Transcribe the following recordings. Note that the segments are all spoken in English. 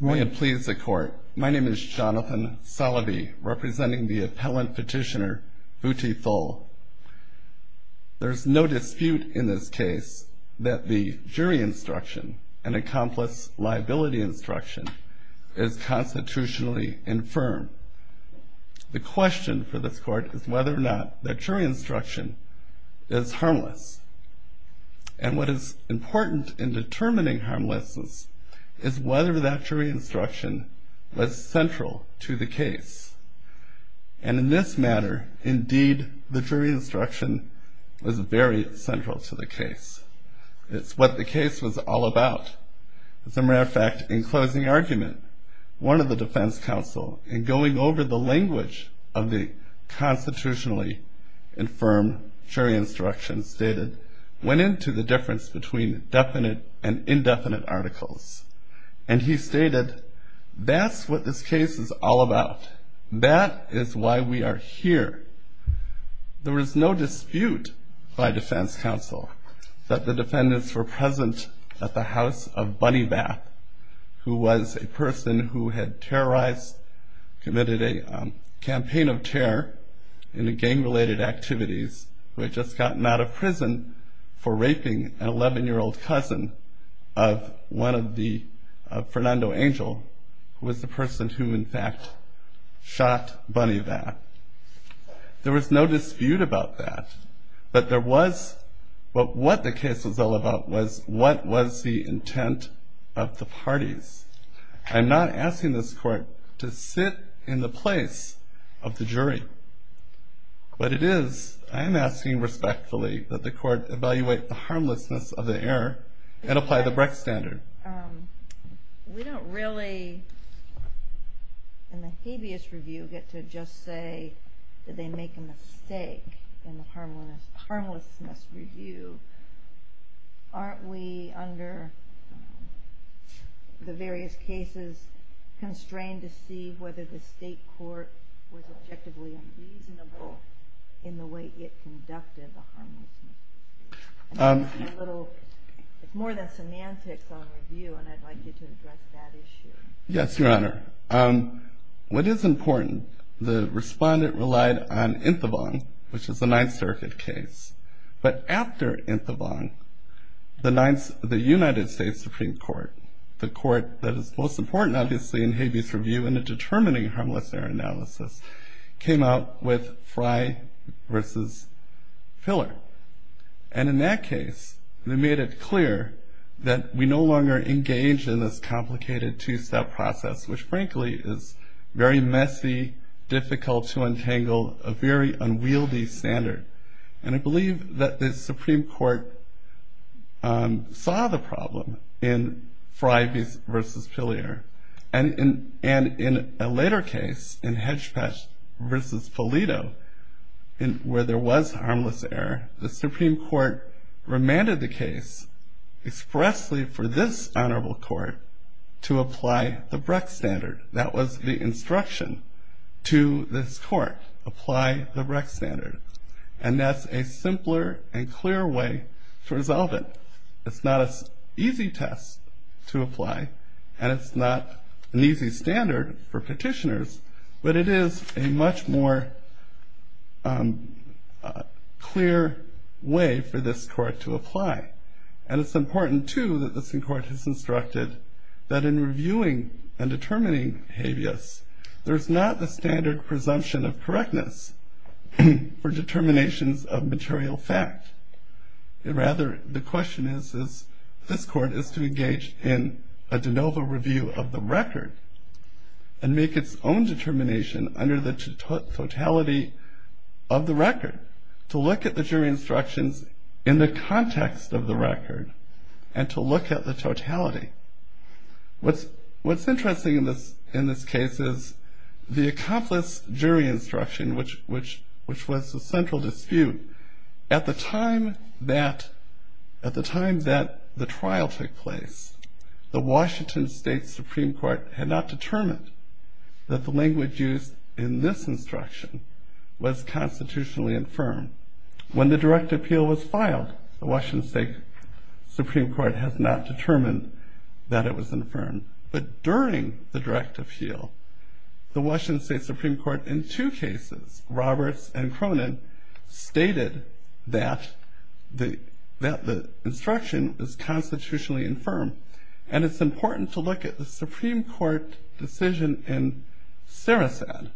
May it please the court. My name is Jonathan Salaby, representing the appellant petitioner Boutifol. There's no dispute in this case that the jury instruction and accomplice liability instruction is constitutionally infirm. The question for this court is whether or not the jury instruction is harmless. And what is important in determining harmlessness is whether that jury instruction was central to the case. And in this matter, indeed, the jury instruction was very central to the case. It's what the case was all about. As a matter of fact, in closing argument, one of the defense counsel, in going over the language of the constitutionally infirm jury instruction stated, went into the difference between definite and indefinite articles. And he stated, that's what this case is all about. That is why we are here. There is no dispute by defense counsel that the defendants were present at the house of Bunny Bath, who was a person who had terrorized, committed a campaign of terror in the gang-related activities, who had just gotten out of prison for raping an 11-year-old cousin of one of the, of Fernando Angel, who was the person who, in fact, shot Bunny Bath. There was no dispute about that. But there was, but what the case was all about was, what was the intent of the parties. I'm not asking this court to sit in the place of the jury. But it is, I'm asking respectfully that the court evaluate the harmlessness of the error and apply the Brecht standard. We don't really, in the habeas review, get to just say that they make a mistake in the harmlessness review. Aren't we, under the various cases, constrained to see whether the state court was objectively unreasonable in the way it conducted the harmlessness review? It's more than semantics on review, and I'd like you to address that issue. Yes, Your Honor. What is important, the respondent relied on Inthevong, which is a Ninth Circuit case. But after Inthevong, the United States Supreme Court, the court that is most important, obviously, in habeas review in a determining harmless error analysis, came out with Fry v. Filler. And in that case, they made it clear that we no longer engage in this complicated two-step process, which, frankly, is very messy, difficult to untangle, a very unwieldy standard. And I believe that the Supreme Court saw the problem in Fry v. Filler. And in a later case, in Hedgepatch v. Polito, where there was harmless error, the Supreme Court remanded the case expressly for this honorable court to apply the Brecht standard. That was the instruction to this court, apply the Brecht standard. And that's a simpler and clearer way to resolve it. It's not an easy test to apply, and it's not an easy standard for petitioners, but it is a much more clear way for this court to apply. And it's important, too, that the Supreme Court has instructed that in reviewing and determining habeas, there's not the standard presumption of correctness for determinations of material fact. Rather, the question is, this court is to engage in a de novo review of the record and make its own determination under the totality of the record, to look at the jury instructions in the context of the record, and to look at the totality. What's interesting in this case is the accomplice jury instruction, which was the central dispute. At the time that the trial took place, the Washington State Supreme Court had not determined that the language used in this instruction was constitutionally infirm. When the direct appeal was filed, the Washington State Supreme Court has not determined that it was infirm. But during the direct appeal, the Washington State Supreme Court, in two cases, Roberts and Cronin, stated that the instruction was constitutionally infirm. And it's important to look at the Supreme Court decision in Sarasat.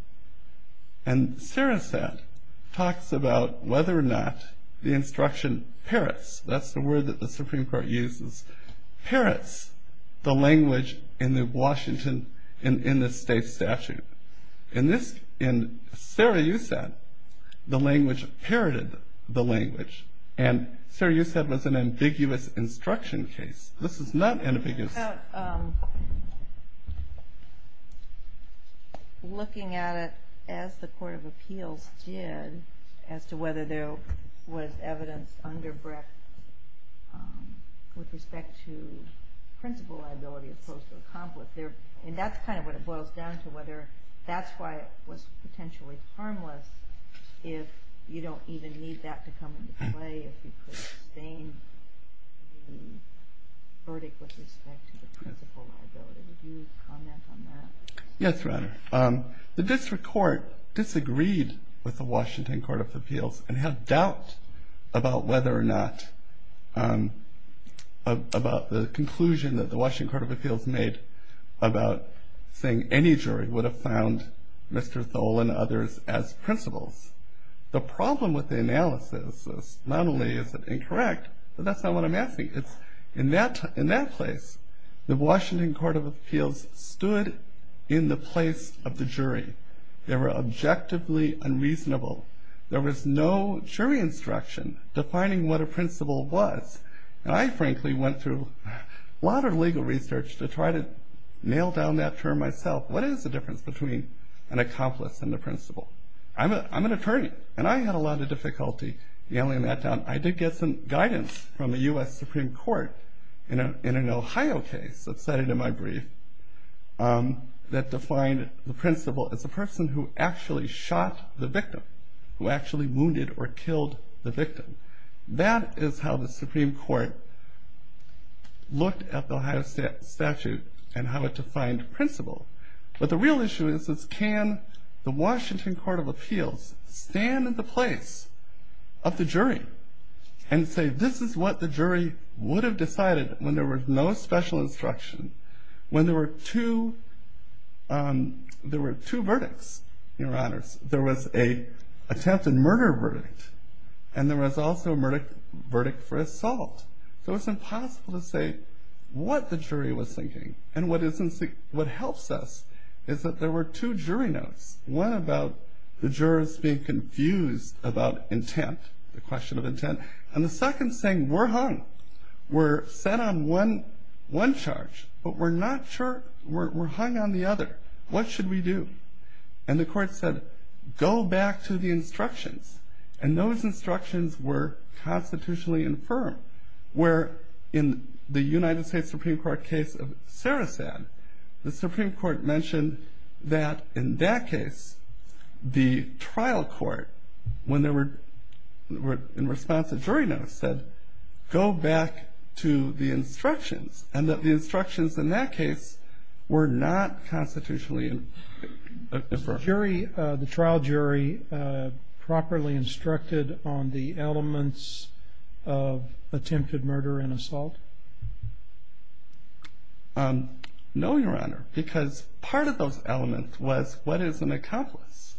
And Sarasat talks about whether or not the instruction parrots, that's the word that the Supreme Court uses, parrots the language in the state statute. In Sarasat, the language parroted the language. And Sarasat was an ambiguous instruction case. This is not ambiguous. Looking at it as the Court of Appeals did, as to whether there was evidence under BRIC with respect to principal liability as opposed to accomplice, and that's kind of what it boils down to, whether that's why it was potentially harmless, if you don't even need that to come into play, if you could sustain the verdict with respect to the principal liability. Would you comment on that? Yes, Your Honor. The district court disagreed with the Washington Court of Appeals and had doubt about whether or not, about the conclusion that the about saying any jury would have found Mr. Thole and others as principals. The problem with the analysis is not only is it incorrect, but that's not what I'm asking. In that place, the Washington Court of Appeals stood in the place of the jury. They were objectively unreasonable. There was no jury instruction defining what a principal was. And I frankly went through a lot of legal research to try to nail down that term myself. What is the difference between an accomplice and a principal? I'm an attorney, and I had a lot of difficulty nailing that down. I did get some guidance from the U.S. Supreme Court in an Ohio case that's cited in my brief that defined the principal as a person who actually shot the victim, who actually wounded or killed the victim. That is how the Supreme Court looked at the Ohio statute and how it defined principal. But the real issue is can the Washington Court of Appeals stand in the place of the jury and say this is what the jury would have decided when there was no special instruction, when there were two verdicts, Your Honors. There was an attempted murder verdict, and there was also a verdict for assault. So it's impossible to say what the jury was thinking. And what helps us is that there were two jury notes, one about the jurors being confused about intent, the question of intent, and the second saying, we're hung. We're set on one charge, but we're hung on the other. What should we do? And the court said, go back to the instructions. And those instructions were constitutionally infirm. Where in the United States Supreme Court case of Sarasan, the Supreme Court mentioned that in that case, the trial court, when they were in response to jury notes, said, go back to the instructions. And that the trial jury properly instructed on the elements of attempted murder and assault? No, Your Honor, because part of those elements was what is an accomplice?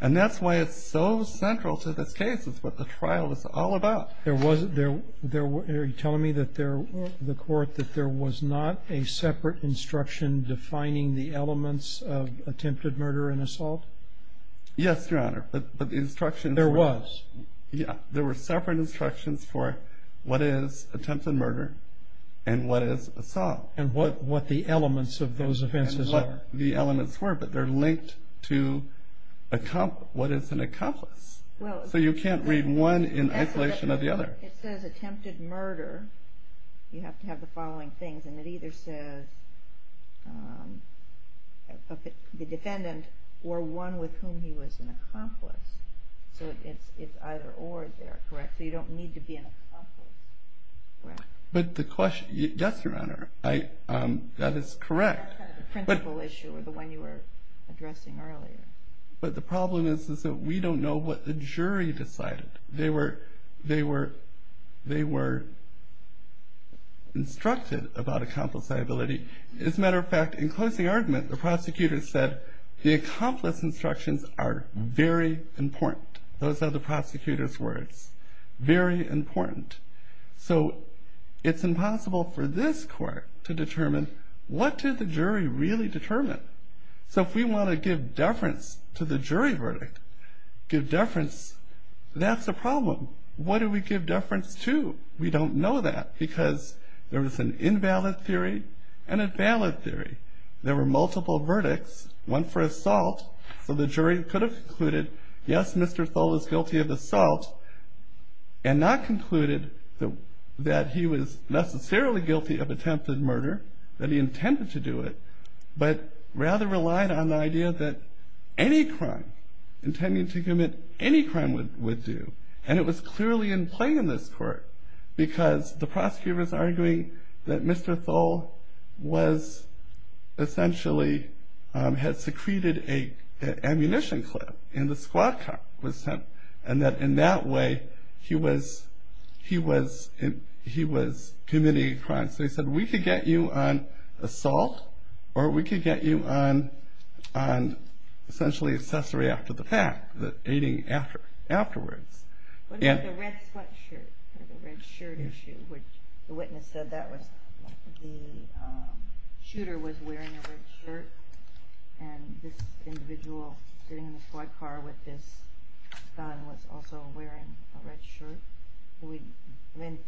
And that's why it's so central to this case, is what the trial is all about. Are you telling me that the court, that there was not a separate instruction defining the elements of attempted murder and assault? Yes, Your Honor, but the instructions... There was. Yeah, there were separate instructions for what is attempted murder and what is assault. And what the elements of those offenses are. And what the elements were, but they're linked to what is an accomplice. So you can't read one in isolation of the other. It says attempted murder, you have to have the following things, and it either says, the defendant, or one with whom he was an accomplice. So it's either or there, correct? So you don't need to be an accomplice. But the question... Yes, Your Honor, that is correct. That's kind of the principle issue, or the one you were addressing earlier. But the problem is, is that we don't know what the jury decided. They were instructed about accomplice liability. As a matter of fact, in closing argument, the prosecutor said, the accomplice instructions are very important. Those are the prosecutor's words. Very important. So it's impossible for this court to determine, what did the jury really determine? So if we wanna give deference to the jury verdict, give deference, that's a problem. What do we give deference to? We don't know that because there was an invalid theory and a valid theory. There were multiple verdicts, one for assault, so the jury could have concluded, yes, Mr. Thole is guilty of assault, and not concluded that he was necessarily guilty of attempted murder, that he intended to do it, but rather relied on the idea that any crime, intending to commit any crime would do. And it was clearly in play in this court, because the prosecutor's arguing that Mr. Thole was, essentially, had secreted an ammunition clip in the squad car, and that in that way, he was committing a crime. So he said, we could get you on assault, or we could get you on, essentially, accessory after the fact, the aiding afterwards. What about the red sweatshirt? The red shirt issue, which the witness said that was, the shooter was wearing a red shirt, and this individual sitting in the squad car with this gun was also wearing a red shirt. We've been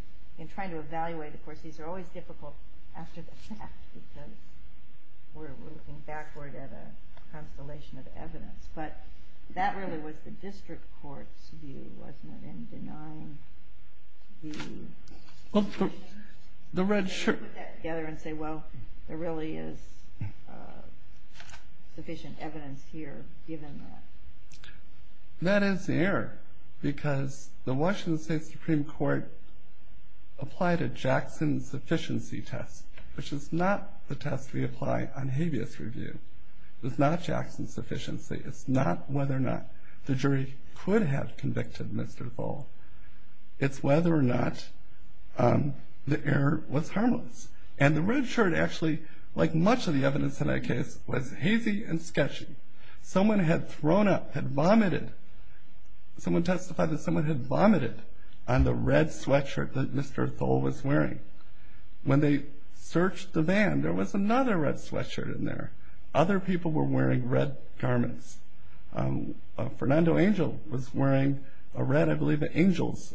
trying to evaluate, of course, these are always difficult after the fact, because we're looking backward at a constellation of evidence, but that really was the district court's view, wasn't it, in denying the red shirt? They put that together and say, well, there really is sufficient evidence here, given that. That is the error, because the Washington State Supreme Court applied a Jackson sufficiency test, which is not the test we apply on habeas review. It's not Jackson sufficiency. It's not whether or not the jury could have convicted Mr. Thole. It's whether or not the error was harmless. And the red shirt, actually, like much of the evidence in that case, was hazy and sketchy. Someone had thrown up, had vomited, someone testified that someone had vomited on the red sweatshirt that Mr. Thole was wearing. When they searched the van, there was another red sweatshirt in there. Other people were wearing red garments. Fernando Angel was wearing a red, I believe, Angel's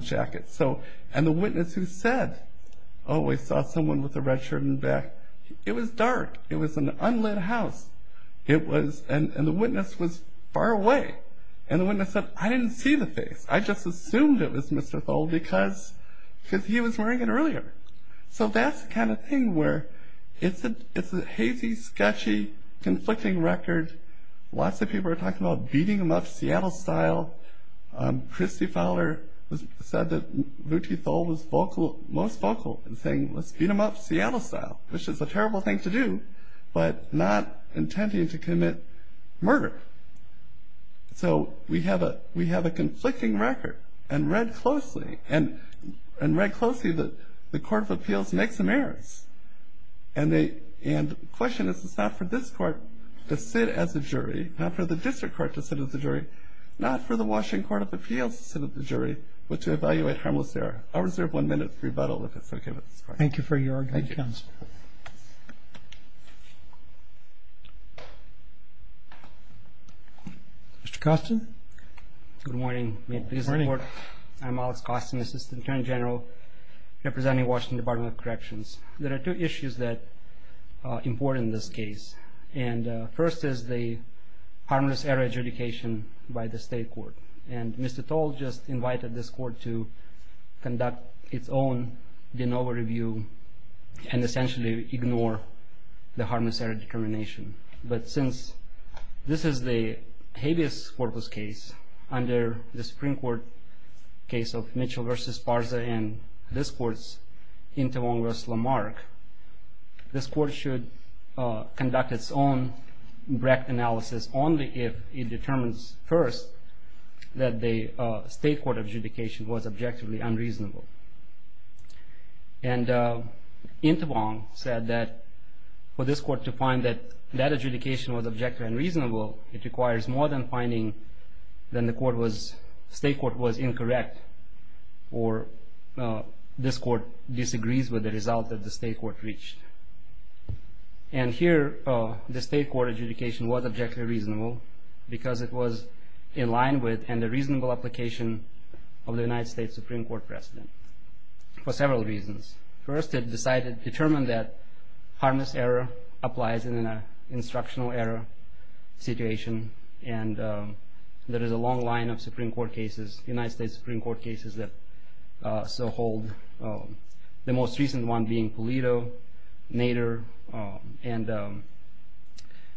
jacket. So, and the witness who said, oh, I saw someone with a red shirt in the back. It was dark. It was an unlit house. It was, and the witness was far away. And the witness said, I didn't see the face. I just assumed it was Mr. Thole, because he was wearing it earlier. So that's the kind of thing where it's a hazy, sketchy, conflicting record. Lots of people are talking about beating him up Seattle-style. Christy Fowler said that Luthi Thole was most vocal in saying, let's beat him up Seattle-style, which is a terrible thing to do, but not intending to commit murder. So we have a conflicting record. And read closely, and read closely, the Court of Appeals makes some errors. And the question is, it's not for this court to sit as a jury, not for the district court to sit as a jury, not for the Washington Court of Appeals to sit as a jury, but to evaluate harmless error. I'll reserve one minute for rebuttal, if it's OK with this court. Thank you for your argument, counsel. Thank you. Mr. Costin? Good morning. Good morning. I'm Alex Costin, Assistant Attorney General representing Washington Department of Corrections. There are two issues that are important in this case. And first is the harmless error adjudication by the state court. And Mr. Thole just invited this court to conduct its own de novo review and essentially ignore the harmless error determination. But since this is the habeas corpus case under the Supreme Court case of Mitchell versus Parza and this court's Intewong versus Lamarck, this court should conduct its own Brecht analysis only if it determines first that the state court adjudication was objectively unreasonable. And Intewong said that for this court to find that that adjudication was objectively unreasonable, it requires more than finding that the state court was incorrect or this court disagrees with the result that the state court reached. And here, the state court adjudication was objectively reasonable because it was in line with and a reasonable application of the United States Supreme Court case for several reasons. First, it determined that harmless error applies in an instructional error situation. And there is a long line of United States Supreme Court cases that so hold, the most recent one being Pulido, Nader, and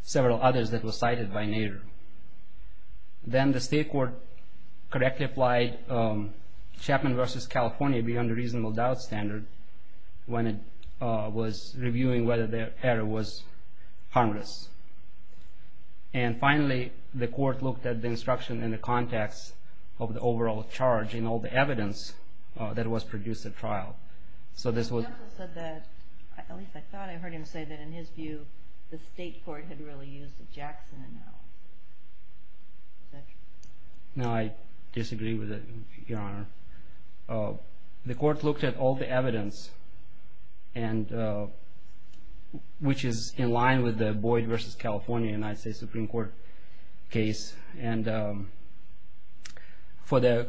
several others that were cited by Nader. Then the state court correctly applied Chapman versus California beyond a reasonable doubt standard when it was reviewing whether the error was harmless. And finally, the court looked at the instruction in the context of the overall charge in all the evidence that was produced at trial. So this was- The counsel said that, at least I thought I heard him say that in his view, the state court had really used a Jackson analogy. No, I disagree with it, Your Honor. The court looked at all the evidence, which is in line with the Boyd versus California United States Supreme Court case. And for the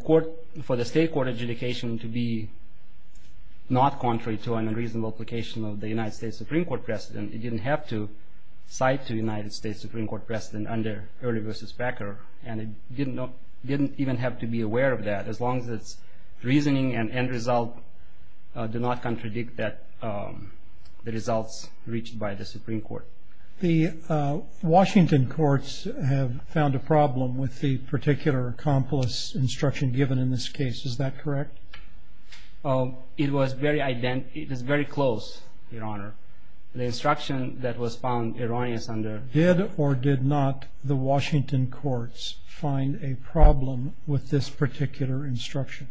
state court adjudication to be not contrary to an unreasonable application of the United States Supreme Court precedent, it didn't have to cite the United States Supreme Court precedent under Early versus Packer. And it didn't even have to be aware of that, as long as its reasoning and end result do not contradict the results reached by the Supreme Court. The Washington courts have found a problem with the particular accomplice instruction given in this case. Is that correct? It was very close, Your Honor. The instruction that was found erroneous under- Did or did not the Washington courts find a problem with this particular instruction?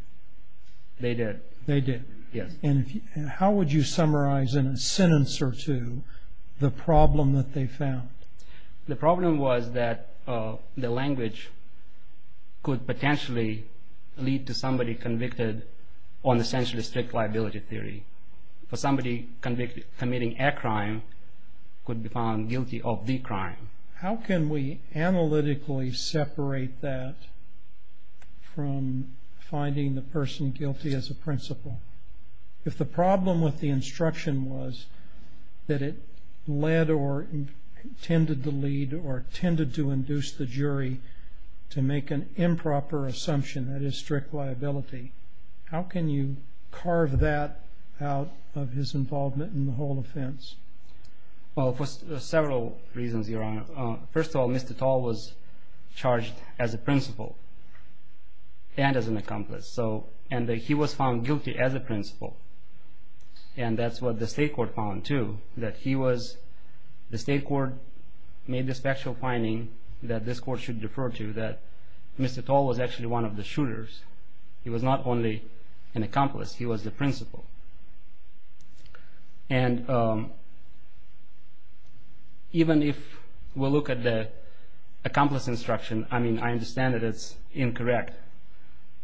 They did. They did? Yes. And how would you summarize in a sentence or two the problem that they found? The problem was that the language could potentially lead to somebody convicted on essentially strict liability theory. For somebody committing a crime could be found guilty of the crime. How can we analytically separate that from finding the person guilty as a principle? If the problem with the instruction was that it led or tended to lead or tended to induce the jury to make an improper assumption that it is strict liability, how can you carve that out of his involvement in the whole offense? Well, for several reasons, Your Honor. First of all, Mr. Tall was charged as a principle and as an accomplice. And he was found guilty as a principle. And that's what the state court found, too, that the state court made this factual finding that this court should refer to that Mr. Tall was actually one of the shooters. He was not only an accomplice. He was the principle. And even if we'll look at the accomplice instruction, I mean, I understand that it's incorrect.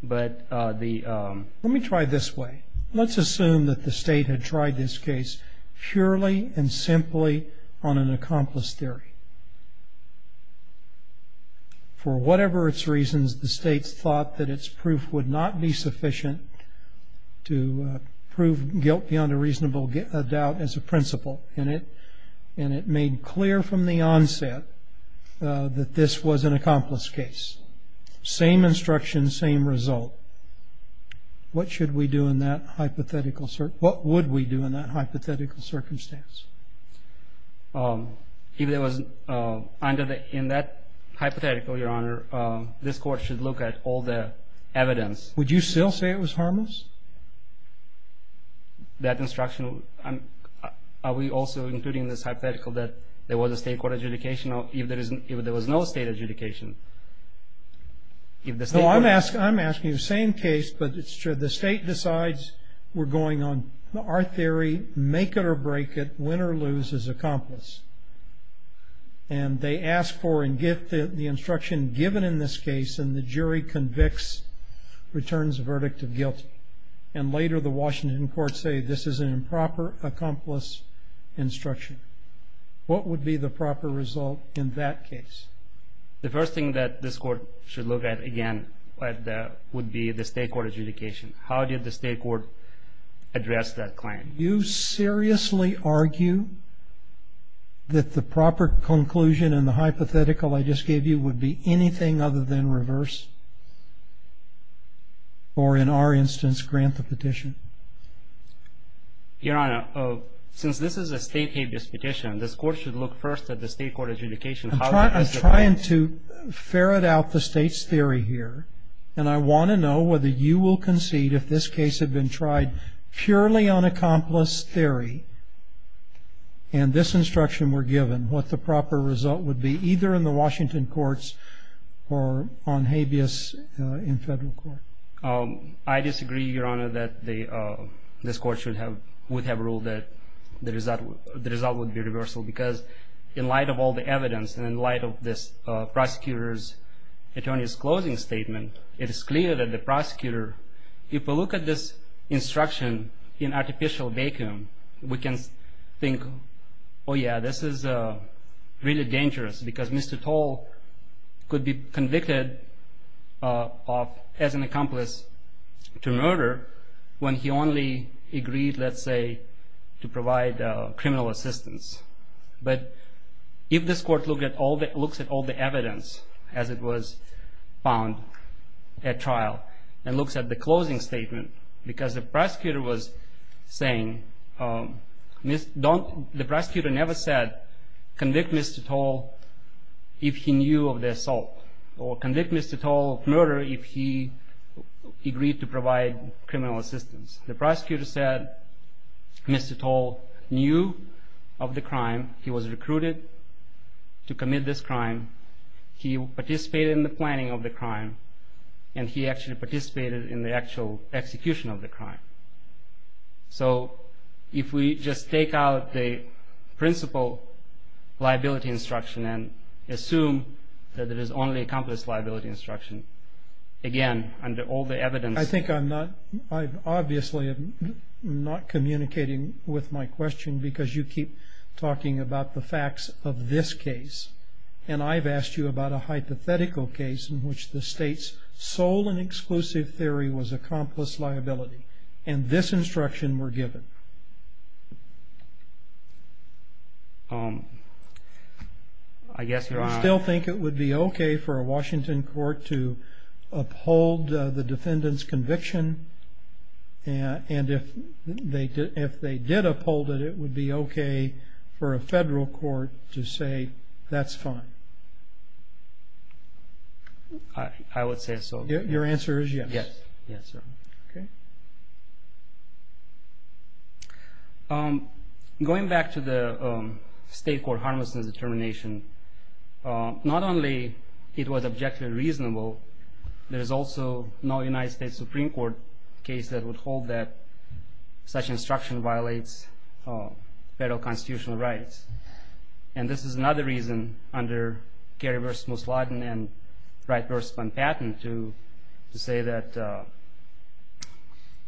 But the- Let me try this way. Let's assume that the state had tried this case purely and simply on an accomplice theory. For whatever its reasons, the state thought that its proof would not be sufficient to prove guilt beyond a reasonable doubt as a principle. And it made clear from the onset that this was an accomplice case. Same instruction, same result. What should we do in that hypothetical cir- what would we do in that hypothetical circumstance? If there was- under the- in that hypothetical, Your Honor, this court should look at all the evidence. Would you still say it was harmless? That instruction- I'm- are we also including in this hypothetical that there was a state court adjudication or if there is- if there was no state adjudication, if the state court- No, I'm asking- I'm asking the same case. But it's true. The state decides we're going on our theory, make it or break it. Win or lose is accomplice. And they ask for and get the instruction given in this case. And the jury convicts, returns the verdict of guilty. And later, the Washington court say this is an improper accomplice instruction. What would be the proper result in that case? The first thing that this court should look at, again, would be the state court adjudication. How did the state court address that claim? Would you seriously argue that the proper conclusion in the hypothetical I just gave you would be anything other than reverse? Or, in our instance, grant the petition? Your Honor, since this is a state-aided petition, this court should look first at the state court adjudication. How does the court- I'm trying to ferret out the state's theory here. And I want to know whether you will concede if this case had been tried purely on accomplice theory, and this instruction were given, what the proper result would be, either in the Washington courts or on habeas in federal court. I disagree, Your Honor, that this court would have ruled that the result would be reversal. Because in light of all the evidence and in light of this prosecutor's attorney's closing statement, it is clear that the prosecutor, if we look at this instruction in artificial vacuum, we can think, oh yeah, this is really dangerous. Because Mr. Toll could be convicted as an accomplice to murder when he only agreed, let's say, to provide criminal assistance. But if this court looks at all the evidence as it was found at trial, and looks at the closing statement, because the prosecutor was saying, the prosecutor never said, convict Mr. Toll if he knew of the assault, or convict Mr. Toll of murder if he agreed to provide criminal assistance. The prosecutor said, Mr. Toll knew of the crime. He was recruited to commit this crime. He participated in the planning of the crime. And he actually participated in the actual execution of the crime. So, if we just take out the principle liability instruction and assume that it is only accomplice liability instruction, again, under all the evidence- I think I'm not, I'm obviously not communicating with my question, because you keep talking about the facts of this case. And I've asked you about a hypothetical case in which the state's sole and exclusive theory was accomplice liability. And this instruction were given. I guess you're on. Do you still think it would be okay for a Washington court to uphold the defendant's conviction? And if they did uphold it, it would be okay for a federal court to say, that's fine? I would say so. Your answer is yes. Yes, yes, sir. Okay. Going back to the state court harmlessness determination, not only it was objectively reasonable, there is also no United States Supreme Court case that would hold that such instruction violates federal constitutional rights. And this is another reason under Gary v. Musladin and Wright v. Van Patten to say that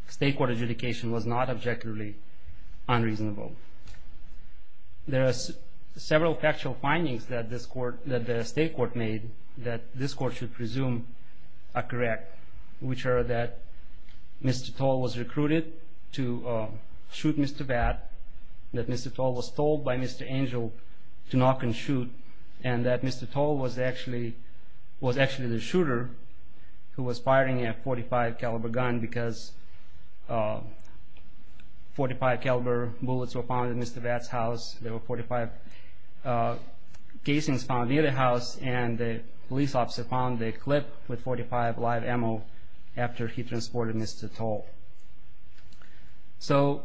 state court adjudication was not objectively unreasonable. There are several factual findings that the state court made that this court should presume are correct, which are that Mr. Toll was recruited to shoot Mr. Vatt, that Mr. Toll was told by Mr. Angel to knock and shoot, and that Mr. Toll was actually the shooter who was firing a .45 caliber gun because .45 caliber bullets were found in Mr. Vatt's house, there were .45 casings found near the house, and the police officer found a clip with .45 live ammo after he transported Mr. Toll. So,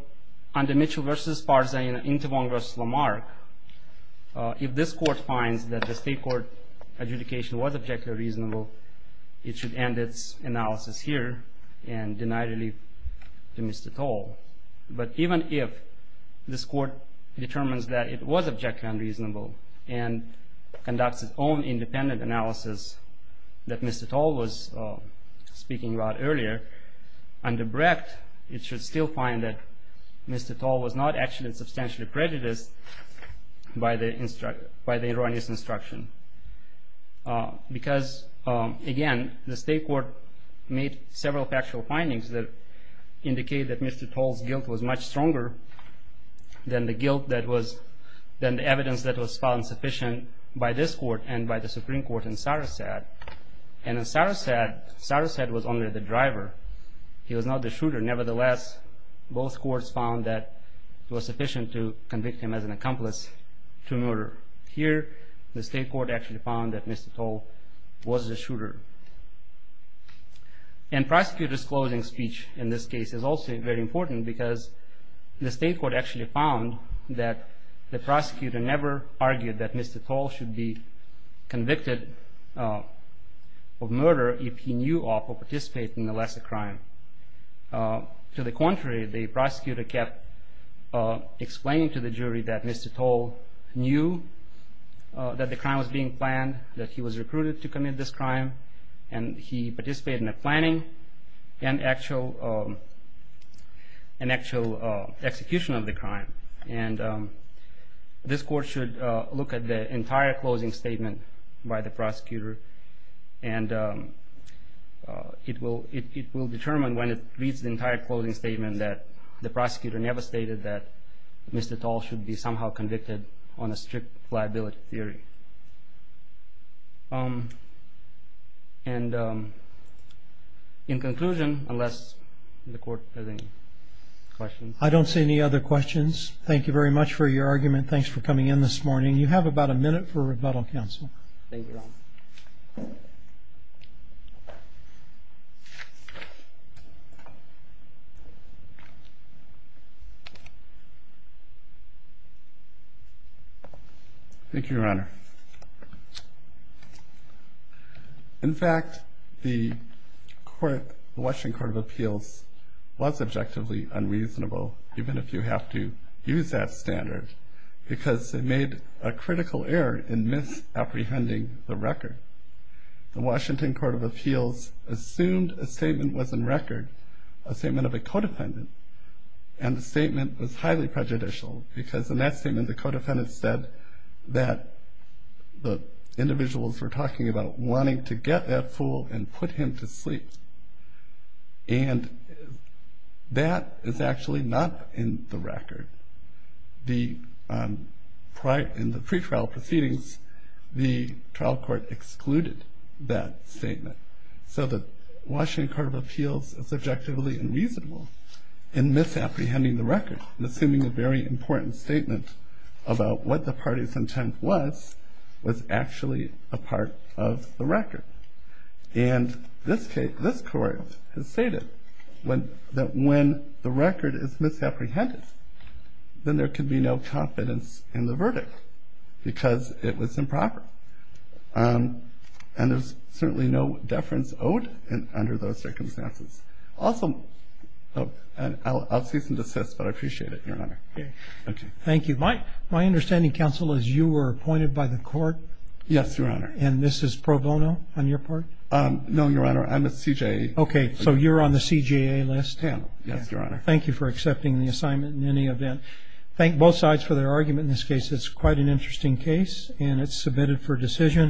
under Mitchell v. Sparza in an interview with Lamarck, if this court finds that the state court adjudication was objectively reasonable, it should end its analysis here and deny relief to Mr. Toll. But even if this court determines that it was objectively unreasonable and conducts its own independent analysis that Mr. Toll was speaking about earlier, under Brecht, it should still find that Mr. Toll was not actually substantially prejudiced by the erroneous instruction. Because, again, the state court made several factual findings that indicate that Mr. Toll's guilt was much stronger than the guilt that was, than the evidence that was found sufficient by this court and by the Supreme Court in Sarasat. And in Sarasat, Sarasat was only the driver. He was not the shooter. Nevertheless, both courts found that it was sufficient to convict him as an accomplice to murder. Here, the state court actually found that Mr. Toll was the shooter. And prosecutor's closing speech in this case is also very important because the state court actually found that the prosecutor never argued that Mr. Toll should be convicted of murder if he knew of or participated in a lesser crime. To the contrary, the prosecutor kept explaining to the jury that Mr. Toll knew that the crime was being planned, that he was recruited to commit this crime, and he participated in the planning and actual execution of the crime. And this court should look at the entire closing statement by the prosecutor. And it will determine when it reads the entire closing statement that the prosecutor never stated that Mr. Toll should be somehow convicted on a strict liability theory. And in conclusion, unless the court has any questions. I don't see any other questions. Thank you very much for your argument. Thanks for coming in this morning. You have about a minute for rebuttal, counsel. Thank you, Your Honor. In fact, the Washington Court of Appeals was objectively unreasonable, even if you have to use that standard, because they made a critical error in misapprehending the record. The Washington Court of Appeals assumed a statement was in record, a statement of a codependent, and the statement was highly prejudicial. Because in that statement, the codependent said that the individuals were talking about wanting to get that fool and put him to sleep. And that is actually not in the record. In the pretrial proceedings, the trial court excluded that statement. So the Washington Court of Appeals is subjectively unreasonable in misapprehending the record, and assuming a very important statement about what the party's intent was, was actually a part of the record. And this case, this court has stated that when the record is misapprehended, then there can be no confidence in the verdict, because it was improper. And there's certainly no deference owed under those circumstances. Also, I'll cease and desist, but I appreciate it, Your Honor. Okay. Thank you. My understanding, counsel, is you were appointed by the court? Yes, Your Honor. And this is pro bono on your part? No, Your Honor, I'm a CJA. Okay, so you're on the CJA list? Yeah, yes, Your Honor. Thank you for accepting the assignment in any event. Thank both sides for their argument in this case. It's quite an interesting case, and it's submitted for decision.